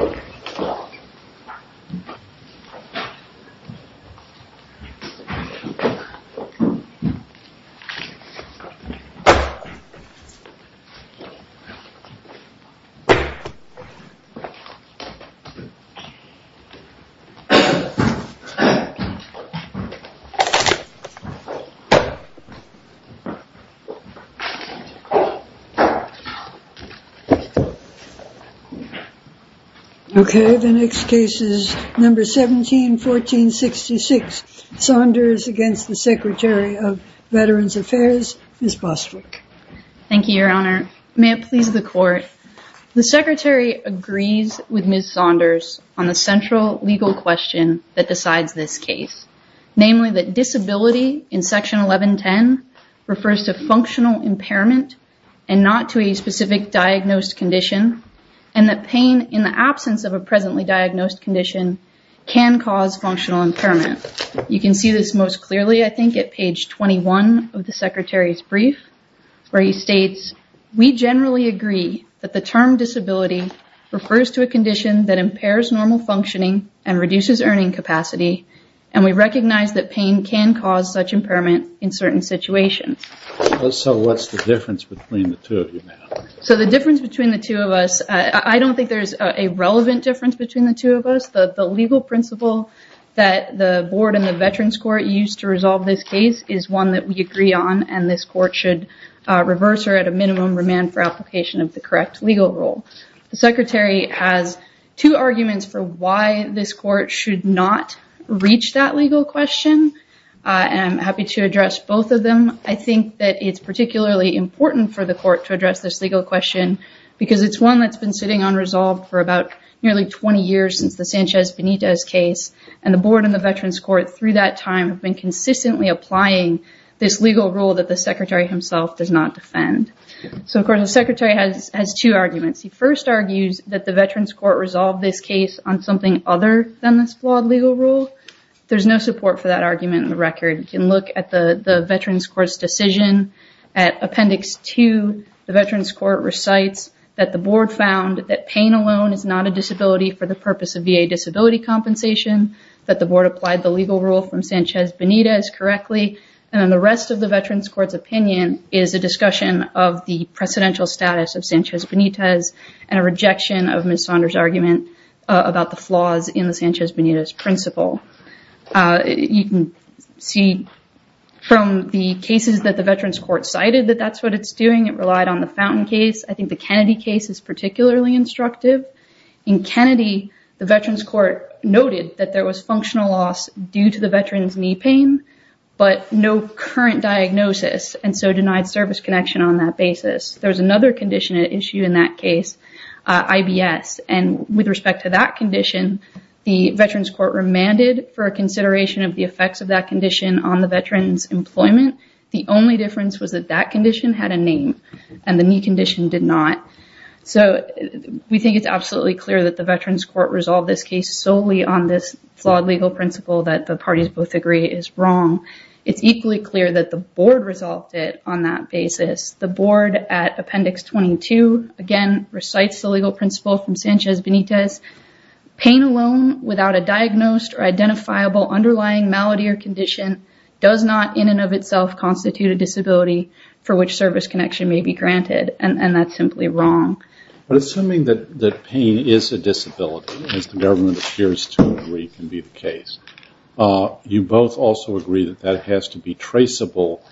Oh Okay, the next case is number 17 1466 Saunders against the Secretary of Veterans Affairs is Bostwick Thank you, Your Honor. May it please the court The secretary agrees with Miss Saunders on the central legal question that decides this case namely that disability in section 1110 refers to functional impairment and not to a specific diagnosed condition and Pain in the absence of a presently diagnosed condition can cause functional impairment You can see this most clearly I think at page 21 of the secretary's brief Where he states we generally agree that the term disability refers to a condition that impairs normal functioning and reduces earning capacity and We recognize that pain can cause such impairment in certain situations So what's the difference between the two of you? So the difference between the two of us? I don't think there's a relevant difference between the two of us the the legal principle that the board and the Veterans Court used to resolve this case is one that we agree on and this court should Reverse or at a minimum remand for application of the correct legal rule The secretary has two arguments for why this court should not reach that legal question And I'm happy to address both of them I think that it's particularly important for the court to address this legal question Because it's one that's been sitting unresolved for about nearly 20 years since the Sanchez Benitez case and the board and the Veterans Court Through that time have been consistently applying this legal rule that the secretary himself does not defend So of course the secretary has has two arguments He first argues that the Veterans Court resolved this case on something other than this flawed legal rule There's no support for that argument in the record you can look at the the Veterans Court's decision at Appendix to the Veterans Court recites that the board found that pain alone is not a disability for the purpose of VA disability compensation that the board applied the legal rule from Sanchez Benitez correctly and then the rest of the Veterans Court's opinion is a Discussion of the precedential status of Sanchez Benitez and a rejection of Miss Saunders argument About the flaws in the Sanchez Benitez principle you can see From the cases that the Veterans Court cited that that's what it's doing. It relied on the fountain case I think the Kennedy case is particularly instructive in Kennedy The Veterans Court noted that there was functional loss due to the veterans knee pain But no current diagnosis and so denied service connection on that basis. There's another condition at issue in that case IBS and with respect to that condition the Veterans Court remanded for a consideration of the effects of that condition on the veterans Employment. The only difference was that that condition had a name and the knee condition did not so We think it's absolutely clear that the Veterans Court resolved this case solely on this flawed legal principle that the parties both agree is wrong It's equally clear that the board resolved it on that basis the board at appendix 22 again recites the legal principle from Sanchez Benitez Pain alone without a diagnosed or identifiable underlying malady or condition does not in and of itself Constitute a disability for which service connection may be granted and that's simply wrong But assuming that the pain is a disability as the government appears to agree can be the case You both also agree that that has to be traceable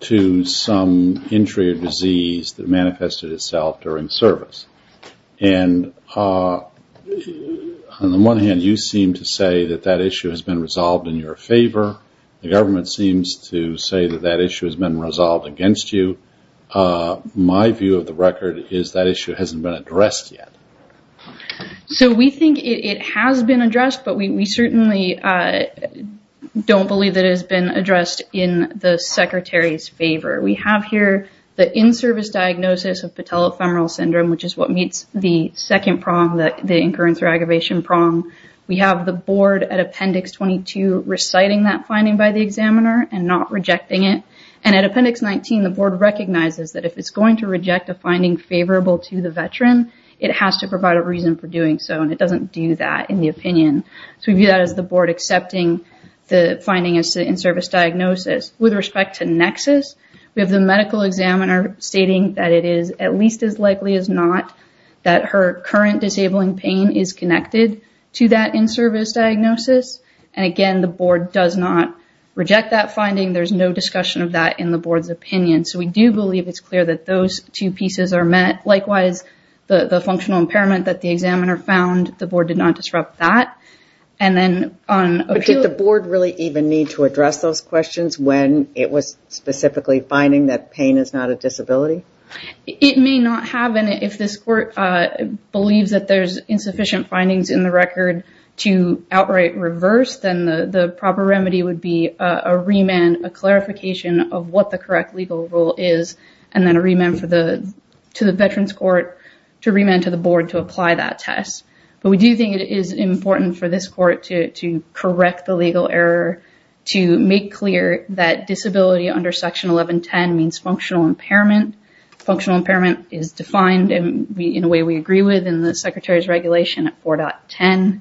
To some injury or disease that manifested itself during service and On the one hand you seem to say that that issue has been resolved in your favor The government seems to say that that issue has been resolved against you My view of the record is that issue hasn't been addressed yet so we think it has been addressed, but we certainly Don't believe that has been addressed in the secretary's favor We have here the in-service diagnosis of patella femoral syndrome Which is what meets the second prong that the incurrence or aggravation prong? We have the board at appendix 22 Reciting that finding by the examiner and not rejecting it and at appendix 19 the board Recognizes that if it's going to reject a finding favorable to the veteran It has to provide a reason for doing so and it doesn't do that in the opinion So we view that as the board accepting the finding as to in-service diagnosis with respect to nexus We have the medical examiner stating that it is at least as likely as not That her current disabling pain is connected to that in-service diagnosis And again, the board does not reject that finding there's no discussion of that in the board's opinion So we do believe it's clear that those two pieces are met Likewise the the functional impairment that the examiner found the board did not disrupt that and then on The board really even need to address those questions when it was specifically finding that pain is not a disability It may not have and if this court believes that there's insufficient findings in the record to outright reverse then the the proper remedy would be a remand a Correct legal rule is and then a remand for the to the veterans court to remand to the board to apply that test But we do think it is important for this court to correct the legal error To make clear that disability under section 1110 means functional impairment Functional impairment is defined and we in a way we agree with in the secretary's regulation at 4.10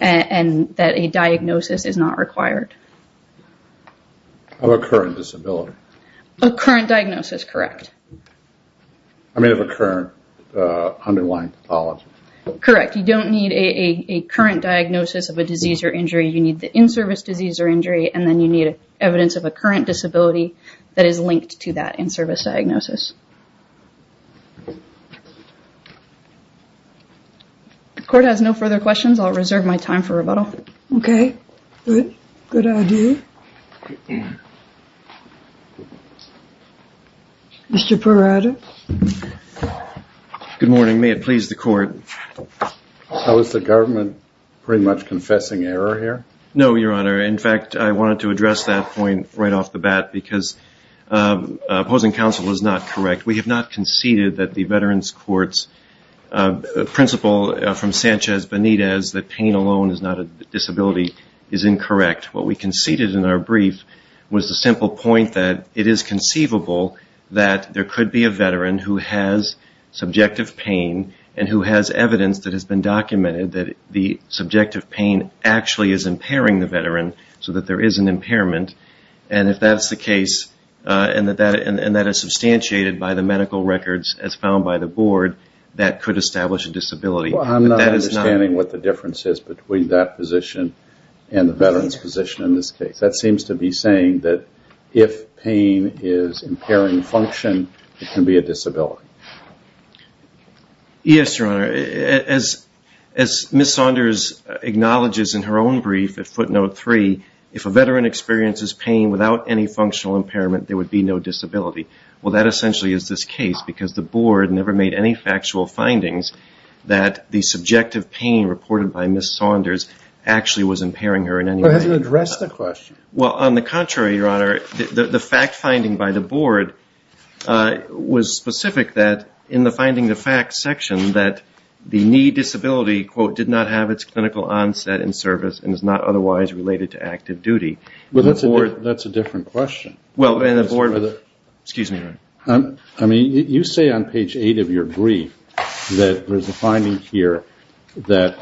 And that a diagnosis is not required Of a current disability a current diagnosis, correct, I mean of a current Underlying pathology, correct. You don't need a current diagnosis of a disease or injury You need the in-service disease or injury and then you need evidence of a current disability that is linked to that in-service diagnosis The court has no further questions, I'll reserve my time for rebuttal. Okay Good good idea Mr. Parada Good morning, may it please the court How is the government pretty much confessing error here? No, your honor. In fact, I wanted to address that point right off the bat because Opposing counsel is not correct. We have not conceded that the veterans courts Principle from Sanchez Benitez that pain alone is not a disability is incorrect What we conceded in our brief was the simple point that it is conceivable that there could be a veteran who has Subjective pain and who has evidence that has been documented that the subjective pain actually is impairing the veteran So that there is an impairment and if that's the case And that that and that is substantiated by the medical records as found by the board that could establish a disability I'm not understanding what the difference is between that position and the veterans position in this case That seems to be saying that if pain is impairing function, it can be a disability Yes, your honor as as Miss Saunders Acknowledges in her own brief at footnote 3 if a veteran experiences pain without any functional impairment, there would be no disability Well that essentially is this case because the board never made any factual findings that the subjective pain reported by Miss Saunders Actually was impairing her in any way to address the question. Well on the contrary your honor the fact finding by the board Was specific that in the finding the fact section that the knee disability quote did not have its clinical onset In service and is not otherwise related to active duty. Well, that's a word. That's a different question Well in the board with it, excuse me I mean you say on page 8 of your brief that there's a finding here that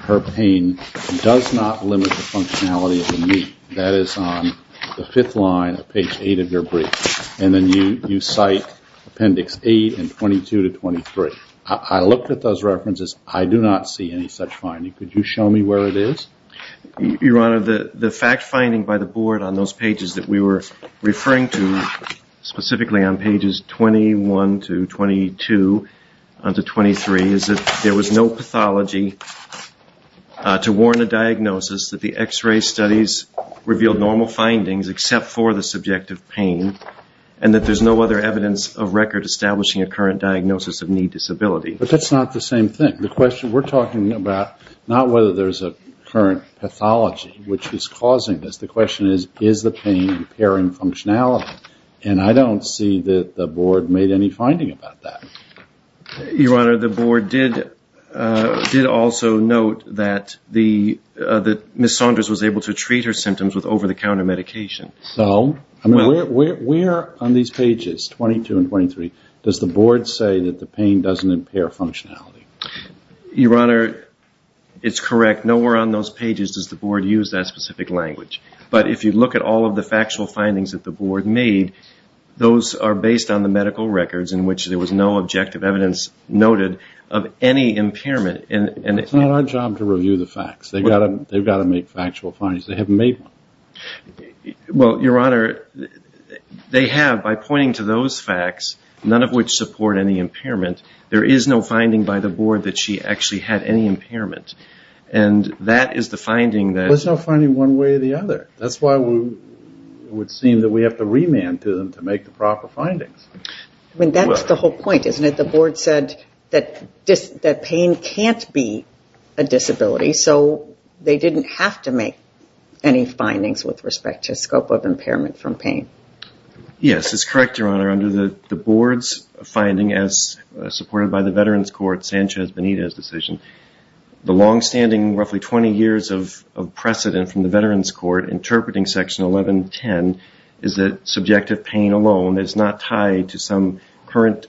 Her pain does not limit the functionality of the knee that is on The fifth line of page 8 of your brief and then you you cite Appendix 8 and 22 to 23. I looked at those references. I do not see any such finding. Could you show me where it is? Your honor the the fact finding by the board on those pages that we were referring to Specifically on pages 21 to 22 Under 23 is that there was no pathology To warn a diagnosis that the x-ray studies revealed normal findings except for the subjective pain and That there's no other evidence of record establishing a current diagnosis of knee disability But that's not the same thing the question we're talking about not whether there's a current pathology Which is causing this the question is is the pain impairing functionality and I don't see that the board made any finding about that Your honor the board did Did also note that the the miss Saunders was able to treat her symptoms with over-the-counter medication So I mean we're on these pages 22 and 23. Does the board say that the pain doesn't impair functionality? Your honor It's correct. Nowhere on those pages does the board use that specific language? But if you look at all of the factual findings that the board made Those are based on the medical records in which there was no objective evidence Noted of any impairment and and it's not our job to review the facts. They've got them They've got to make factual findings. They haven't made Well, your honor They have by pointing to those facts none of which support any impairment there is no finding by the board that she actually had any impairment and That is the finding that it's not finding one way or the other. That's why we Would seem that we have to remand to them to make the proper findings I mean, that's the whole point. Isn't it? The board said that just that pain can't be a Disability so they didn't have to make any findings with respect to scope of impairment from pain Yes, it's correct. Your honor under the the board's finding as supported by the Veterans Court Sanchez Benitez decision The long-standing roughly 20 years of Precedent from the Veterans Court interpreting section 1110 is that subjective pain alone is not tied to some current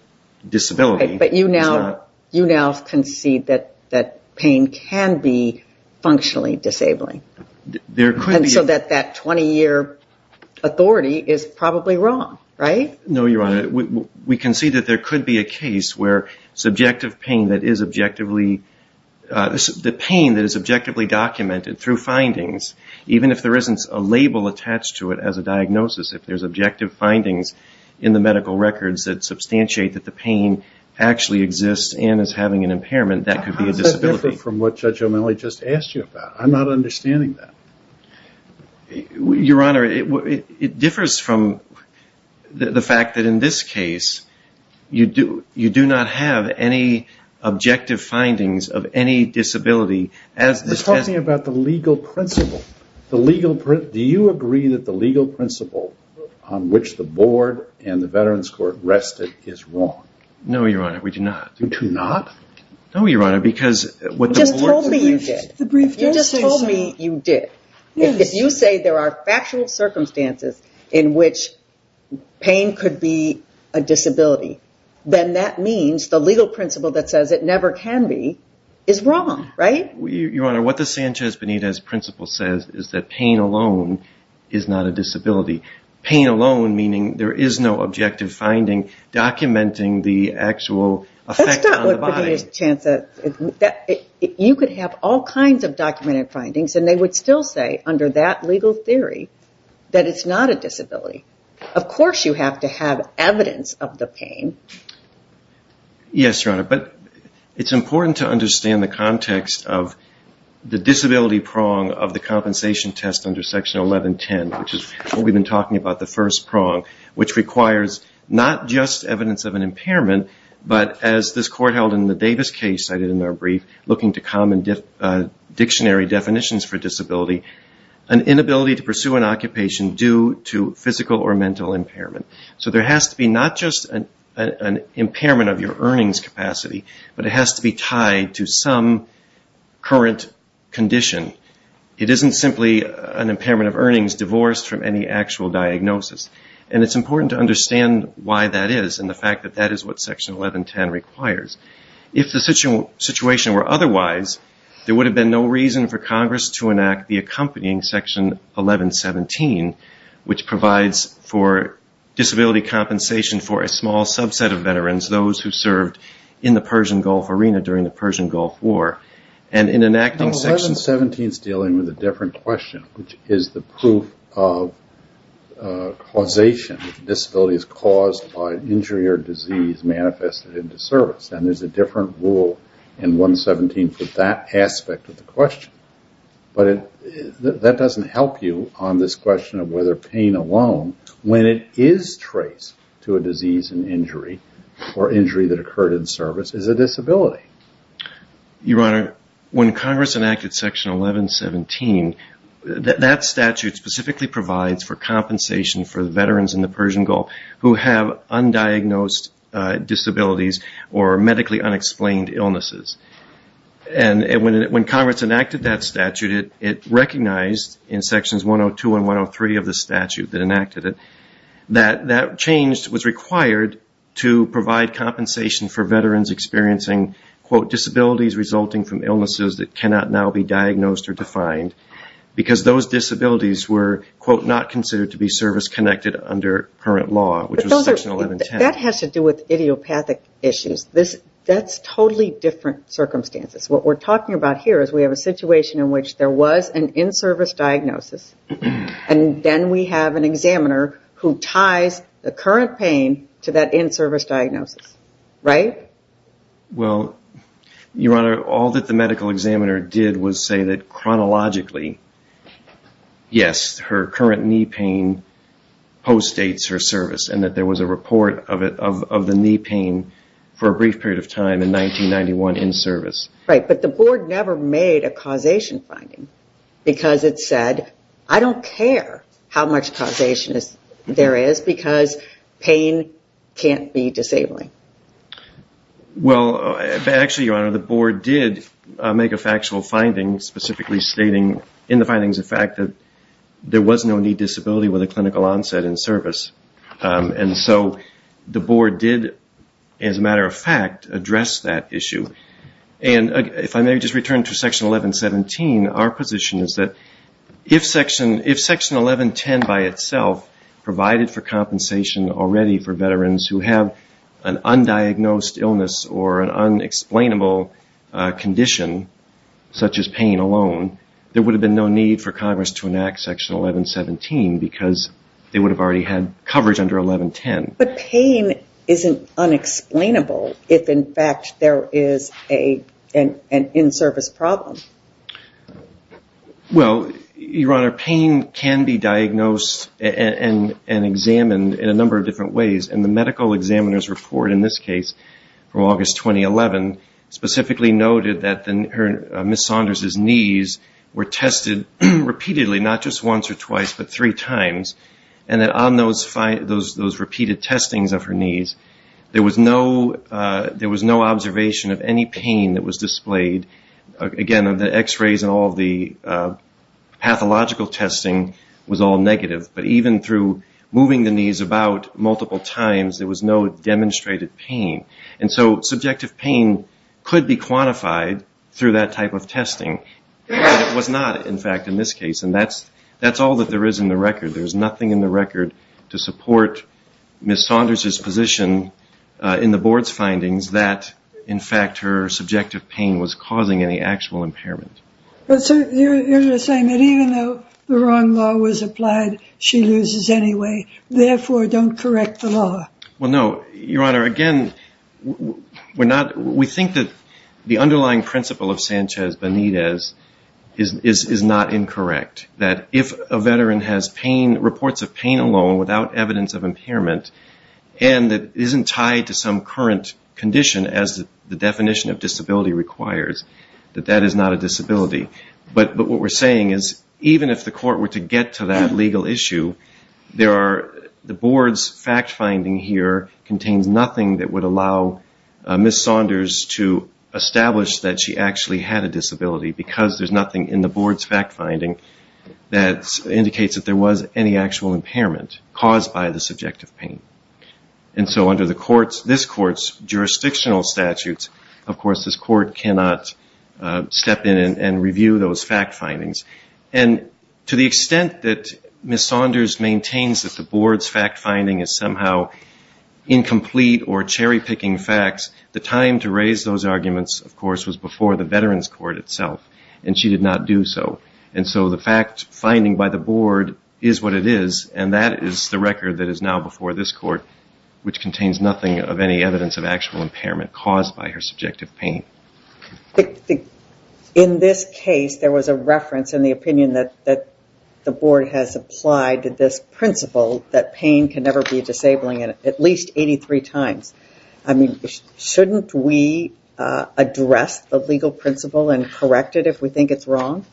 Disability, but you now you now can see that that pain can be Functionally disabling there could so that that 20-year Authority is probably wrong, right? No, you're on it. We can see that there could be a case where Subjective pain that is objectively This is the pain that is objectively documented through findings Even if there isn't a label attached to it as a diagnosis if there's objective findings in the medical records that substantiate that the pain Actually exists and is having an impairment that could be a disability from what judge O'Malley just asked you about. I'm not understanding that Your honor it differs from the fact that in this case You do you do not have any Objective findings of any disability as the talking about the legal principle the legal print Do you agree that the legal principle on which the board and the Veterans Court rested is wrong? No, you're on it. We do not do to not No, you're on it because what just told me you did you just told me you did if you say there are factual circumstances in which pain could be a Disability then that means the legal principle that says it never can be is wrong, right? We your honor what the Sanchez Benitez principle says is that pain alone is not a disability pain alone Meaning there is no objective finding documenting the actual chance that You could have all kinds of documented findings and they would still say under that legal theory that it's not a disability Of course you have to have evidence of the pain Yes, your honor, but it's important to understand the context of The disability prong of the compensation test under section 1110, which is what we've been talking about The first prong which requires not just evidence of an impairment But as this court held in the Davis case cited in our brief looking to common dictionary definitions for disability an Physical or mental impairment. So there has to be not just an Impairment of your earnings capacity, but it has to be tied to some current Condition it isn't simply an impairment of earnings divorced from any actual diagnosis and it's important to understand why that is and the fact that that is what section 1110 requires if the Situation were otherwise there would have been no reason for Congress to enact the accompanying section 1117 which provides for disability compensation for a small subset of veterans those who served in the Persian Gulf arena during the Persian Gulf War and in enacting section 17 stealing with a different question, which is the proof of Causation disability is caused by injury or disease Manifested into service and there's a different rule in 117 for that aspect of the question But it that doesn't help you on this question of whether pain alone When it is traced to a disease and injury or injury that occurred in service is a disability Your honor when Congress enacted section 1117 That statute specifically provides for compensation for the veterans in the Persian Gulf who have undiagnosed disabilities or medically unexplained illnesses and When Congress enacted that statute it it recognized in sections 102 and 103 of the statute that enacted it That that changed was required to provide compensation for veterans experiencing Quote disabilities resulting from illnesses that cannot now be diagnosed or defined Because those disabilities were quote not considered to be service-connected under current law That has to do with idiopathic issues this that's totally different Circumstances what we're talking about here is we have a situation in which there was an in-service diagnosis And then we have an examiner who ties the current pain to that in-service diagnosis, right? well Your honor all that the medical examiner did was say that chronologically Yes, her current knee pain Postdates her service and that there was a report of it of the knee pain for a brief period of time in 1991 in service right but the board never made a causation finding Because it said I don't care how much causation is there is because pain Can't be disabling well, actually your honor the board did make a factual finding specifically stating in the findings the fact that There was no knee disability with a clinical onset in service and so the board did as a matter of fact address that issue and If I may just return to section 1117 our position is that if section if section 1110 by itself Provided for compensation already for veterans who have an undiagnosed illness or an unexplainable condition Such as pain alone There would have been no need for Congress to enact section 1117 because they would have already had coverage under 1110 But pain isn't Unexplainable if in fact there is a and an in-service problem Well, your honor pain can be diagnosed and Examined in a number of different ways and the medical examiners report in this case from August 2011 Specifically noted that then her miss Saunders his knees were tested Repeatedly not just once or twice but three times and that on those five those those repeated testings of her knees There was no There was no observation of any pain that was displayed again of the x-rays and all the Pathological testing was all negative, but even through moving the knees about multiple times There was no demonstrated pain. And so subjective pain could be quantified through that type of testing It was not in fact in this case, and that's that's all that there is in the record There's nothing in the record to support miss Saunders his position In the board's findings that in fact her subjective pain was causing any actual impairment But so you're saying that even though the wrong law was applied she loses anyway Therefore don't correct the law. Well, no your honor again We're not we think that the underlying principle of Sanchez Benitez is is not incorrect that if a veteran has pain reports of pain alone without evidence of impairment and That isn't tied to some current condition as the definition of disability requires that that is not a disability But but what we're saying is even if the court were to get to that legal issue There are the board's fact-finding here contains nothing that would allow Miss Saunders to establish that she actually had a disability because there's nothing in the board's fact-finding That indicates that there was any actual impairment caused by the subjective pain And so under the courts this courts jurisdictional statutes, of course this court cannot step in and review those fact findings and To the extent that miss Saunders maintains that the board's fact-finding is somehow Incomplete or cherry-picking facts the time to raise those arguments Of course was before the veterans court itself and she did not do so And so the fact finding by the board is what it is And that is the record that is now before this court Which contains nothing of any evidence of actual impairment caused by her subjective pain? In this case there was a reference in the opinion that that the board has applied to this Principle that pain can never be disabling in at least 83 times. I mean shouldn't we Address the legal principle and correct it if we think it's wrong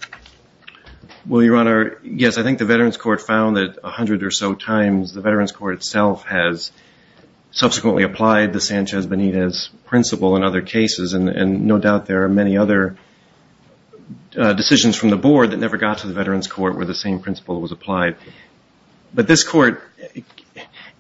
Will your honor? Yes, I think the Veterans Court found that a hundred or so times the Veterans Court itself has Subsequently applied the Sanchez Benitez principle in other cases and and no doubt there are many other Decisions from the board that never got to the Veterans Court where the same principle was applied but this court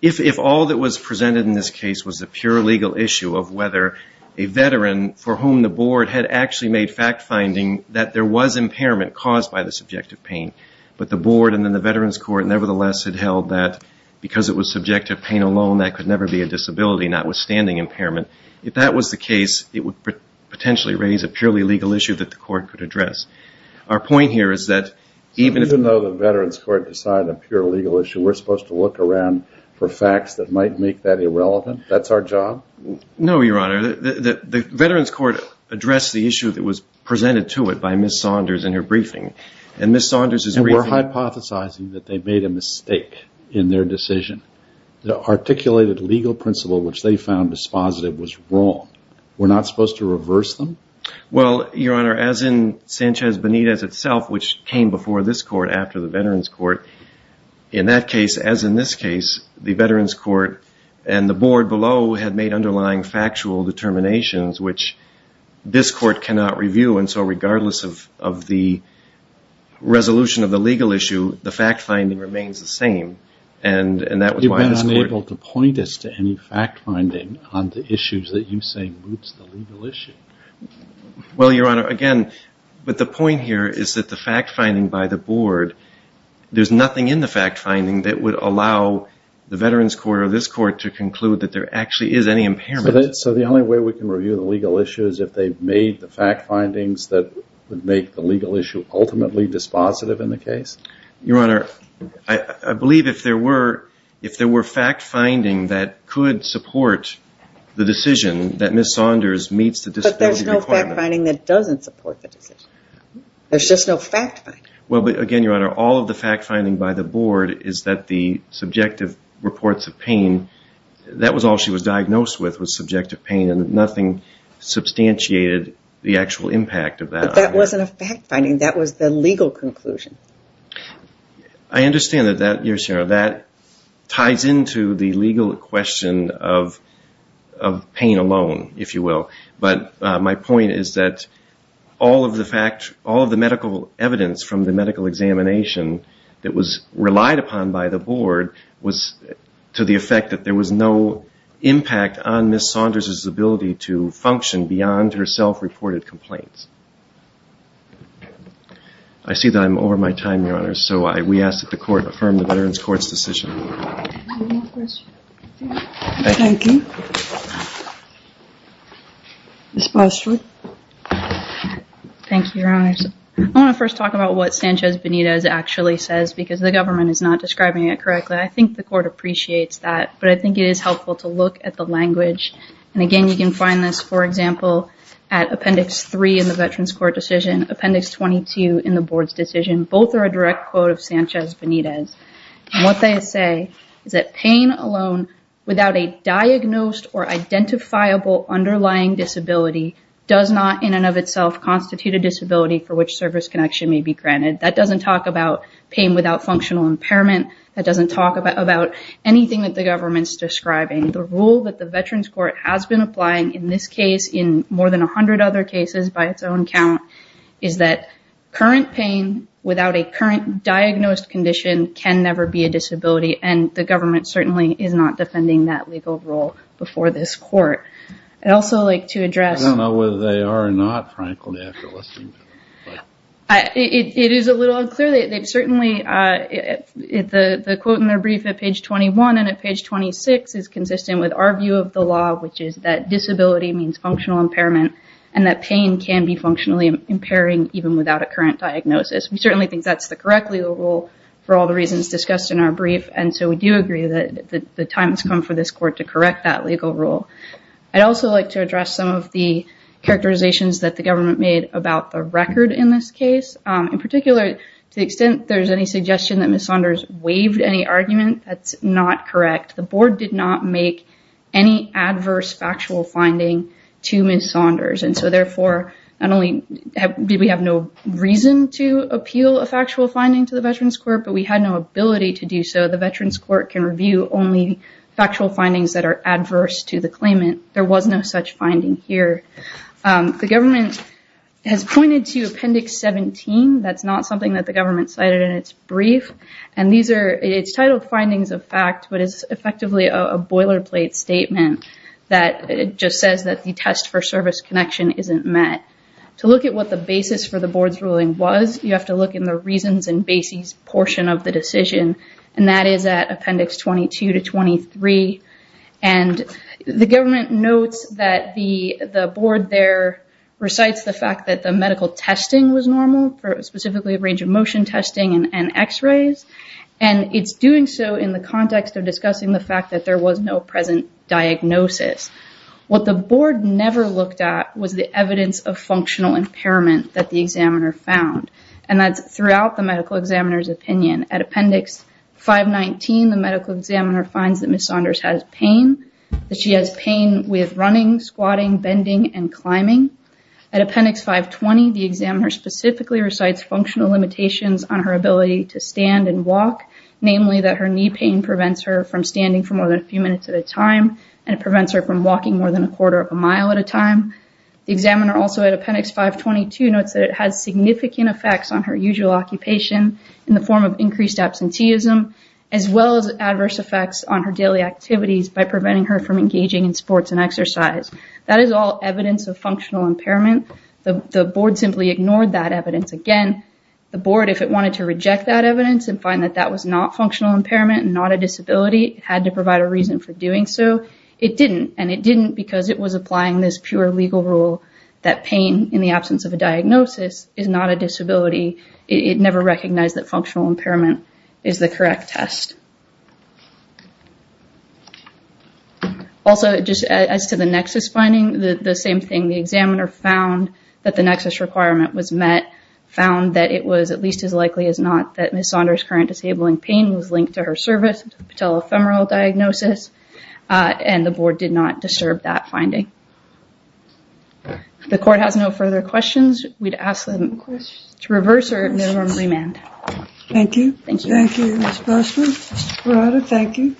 if all that was presented in this case was a pure legal issue of whether a Veteran for whom the board had actually made fact-finding that there was impairment caused by the subjective pain But the board and then the Veterans Court nevertheless had held that Because it was subjective pain alone that could never be a disability notwithstanding impairment if that was the case it would Potentially raise a purely legal issue that the court could address Our point here is that even though the Veterans Court decided a pure legal issue We're supposed to look around for facts that might make that irrelevant. That's our job No, your honor that the Veterans Court addressed the issue that was presented to it by miss Saunders in her briefing and miss Saunders Hypothesizing that they made a mistake in their decision the articulated legal principle, which they found dispositive was wrong We're not supposed to reverse them Well, your honor as in Sanchez Benitez itself, which came before this court after the Veterans Court in that case as in this case the Veterans Court and the board below had made underlying factual determinations, which this court cannot review and so regardless of of the Resolution of the legal issue the fact-finding remains the same and And that was why I was able to point us to any fact-finding on the issues that you say roots the legal issue Well, your honor again, but the point here is that the fact-finding by the board There's nothing in the fact-finding that would allow The Veterans Court or this court to conclude that there actually is any impairment So the only way we can review the legal issue is if they've made the fact findings that would make the legal issue Ultimately dispositive in the case your honor I I believe if there were if there were fact-finding that could support The decision that miss Saunders meets the discipline finding that doesn't support the decision There's just no fact. Well, but again your honor all of the fact-finding by the board. Is that the subjective reports of pain? That was all she was diagnosed with was subjective pain and nothing Substantiated the actual impact of that. That wasn't a fact-finding. That was the legal conclusion. I understand that that you're sure that ties into the legal question of of Pain alone if you will, but my point is that All of the fact all of the medical evidence from the medical examination That was relied upon by the board was to the effect that there was no Impact on miss Saunders's ability to function beyond her self-reported complaints. I See that I'm over my time your honor, so I we asked that the court affirm the Veterans Court's decision Thank you It's mostly Thank you, your honor. I want to first talk about what Sanchez Benitez actually says because the government is not describing it correctly I think the court appreciates that but I think it is helpful to look at the language and again You can find this for example at appendix 3 in the Veterans Court decision appendix 22 in the board's decision Both are a direct quote of Sanchez Benitez and what they say is that pain alone without a diagnosed or Identifiable underlying disability does not in and of itself constitute a disability for which service connection may be granted That doesn't talk about pain without functional impairment That doesn't talk about about Anything that the government's describing the rule that the Veterans Court has been applying in this case in more than a hundred other cases by Its own count is that current pain without a current diagnosed condition can never be a disability and the government Certainly is not defending that legal role before this court. I'd also like to address I don't know whether they are or not, frankly, I have to listen to them. It is a little unclear that they've certainly If the the quote in their brief at page 21 and at page 26 is consistent with our view of the law Which is that disability means functional impairment and that pain can be functionally impairing even without a current diagnosis We certainly think that's the correct legal rule for all the reasons discussed in our brief And so we do agree that the time has come for this court to correct that legal rule. I'd also like to address some of the Characterizations that the government made about the record in this case in particular to the extent there's any suggestion that Miss Saunders waived any argument That's not correct. The board did not make any adverse factual finding to Miss Saunders And so therefore not only did we have no reason to appeal a factual finding to the Veterans Court But we had no ability to do so the Veterans Court can review only Factual findings that are adverse to the claimant. There was no such finding here The government has pointed to appendix 17 That's not something that the government cited in its brief. And these are its titled findings of fact What is effectively a boilerplate statement that it just says that the test for service connection isn't met To look at what the basis for the board's ruling was you have to look in the reasons and basis portion of the decision and that is at appendix 22 to 23 and The government notes that the the board there Recites the fact that the medical testing was normal for specifically a range of motion testing and x-rays and It's doing so in the context of discussing the fact that there was no present diagnosis What the board never looked at was the evidence of functional impairment that the examiner found and that's throughout the medical examiner's opinion at appendix 519 the medical examiner finds that Miss Saunders has pain that she has pain with running squatting bending and climbing At appendix 520 the examiner specifically recites functional limitations on her ability to stand and walk Namely that her knee pain prevents her from standing for more than a few minutes at a time And it prevents her from walking more than a quarter of a mile at a time the examiner also at appendix 522 notes that it has significant effects on her usual occupation in the form of increased absenteeism as Well as adverse effects on her daily activities by preventing her from engaging in sports and exercise That is all evidence of functional impairment the board simply ignored that evidence again the board if it wanted to reject that evidence and find that that was not functional impairment and not a Disability had to provide a reason for doing so it didn't and it didn't because it was applying this pure legal rule That pain in the absence of a diagnosis is not a disability. It never recognized that functional impairment is the correct test Also Just as to the nexus finding the same thing the examiner found that the nexus requirement was met Found that it was at least as likely as not that miss Saunders current disabling pain was linked to her service Patel ephemeral diagnosis And the board did not disturb that finding The court has no further questions we'd ask them to reverse or Thank you Rather thank you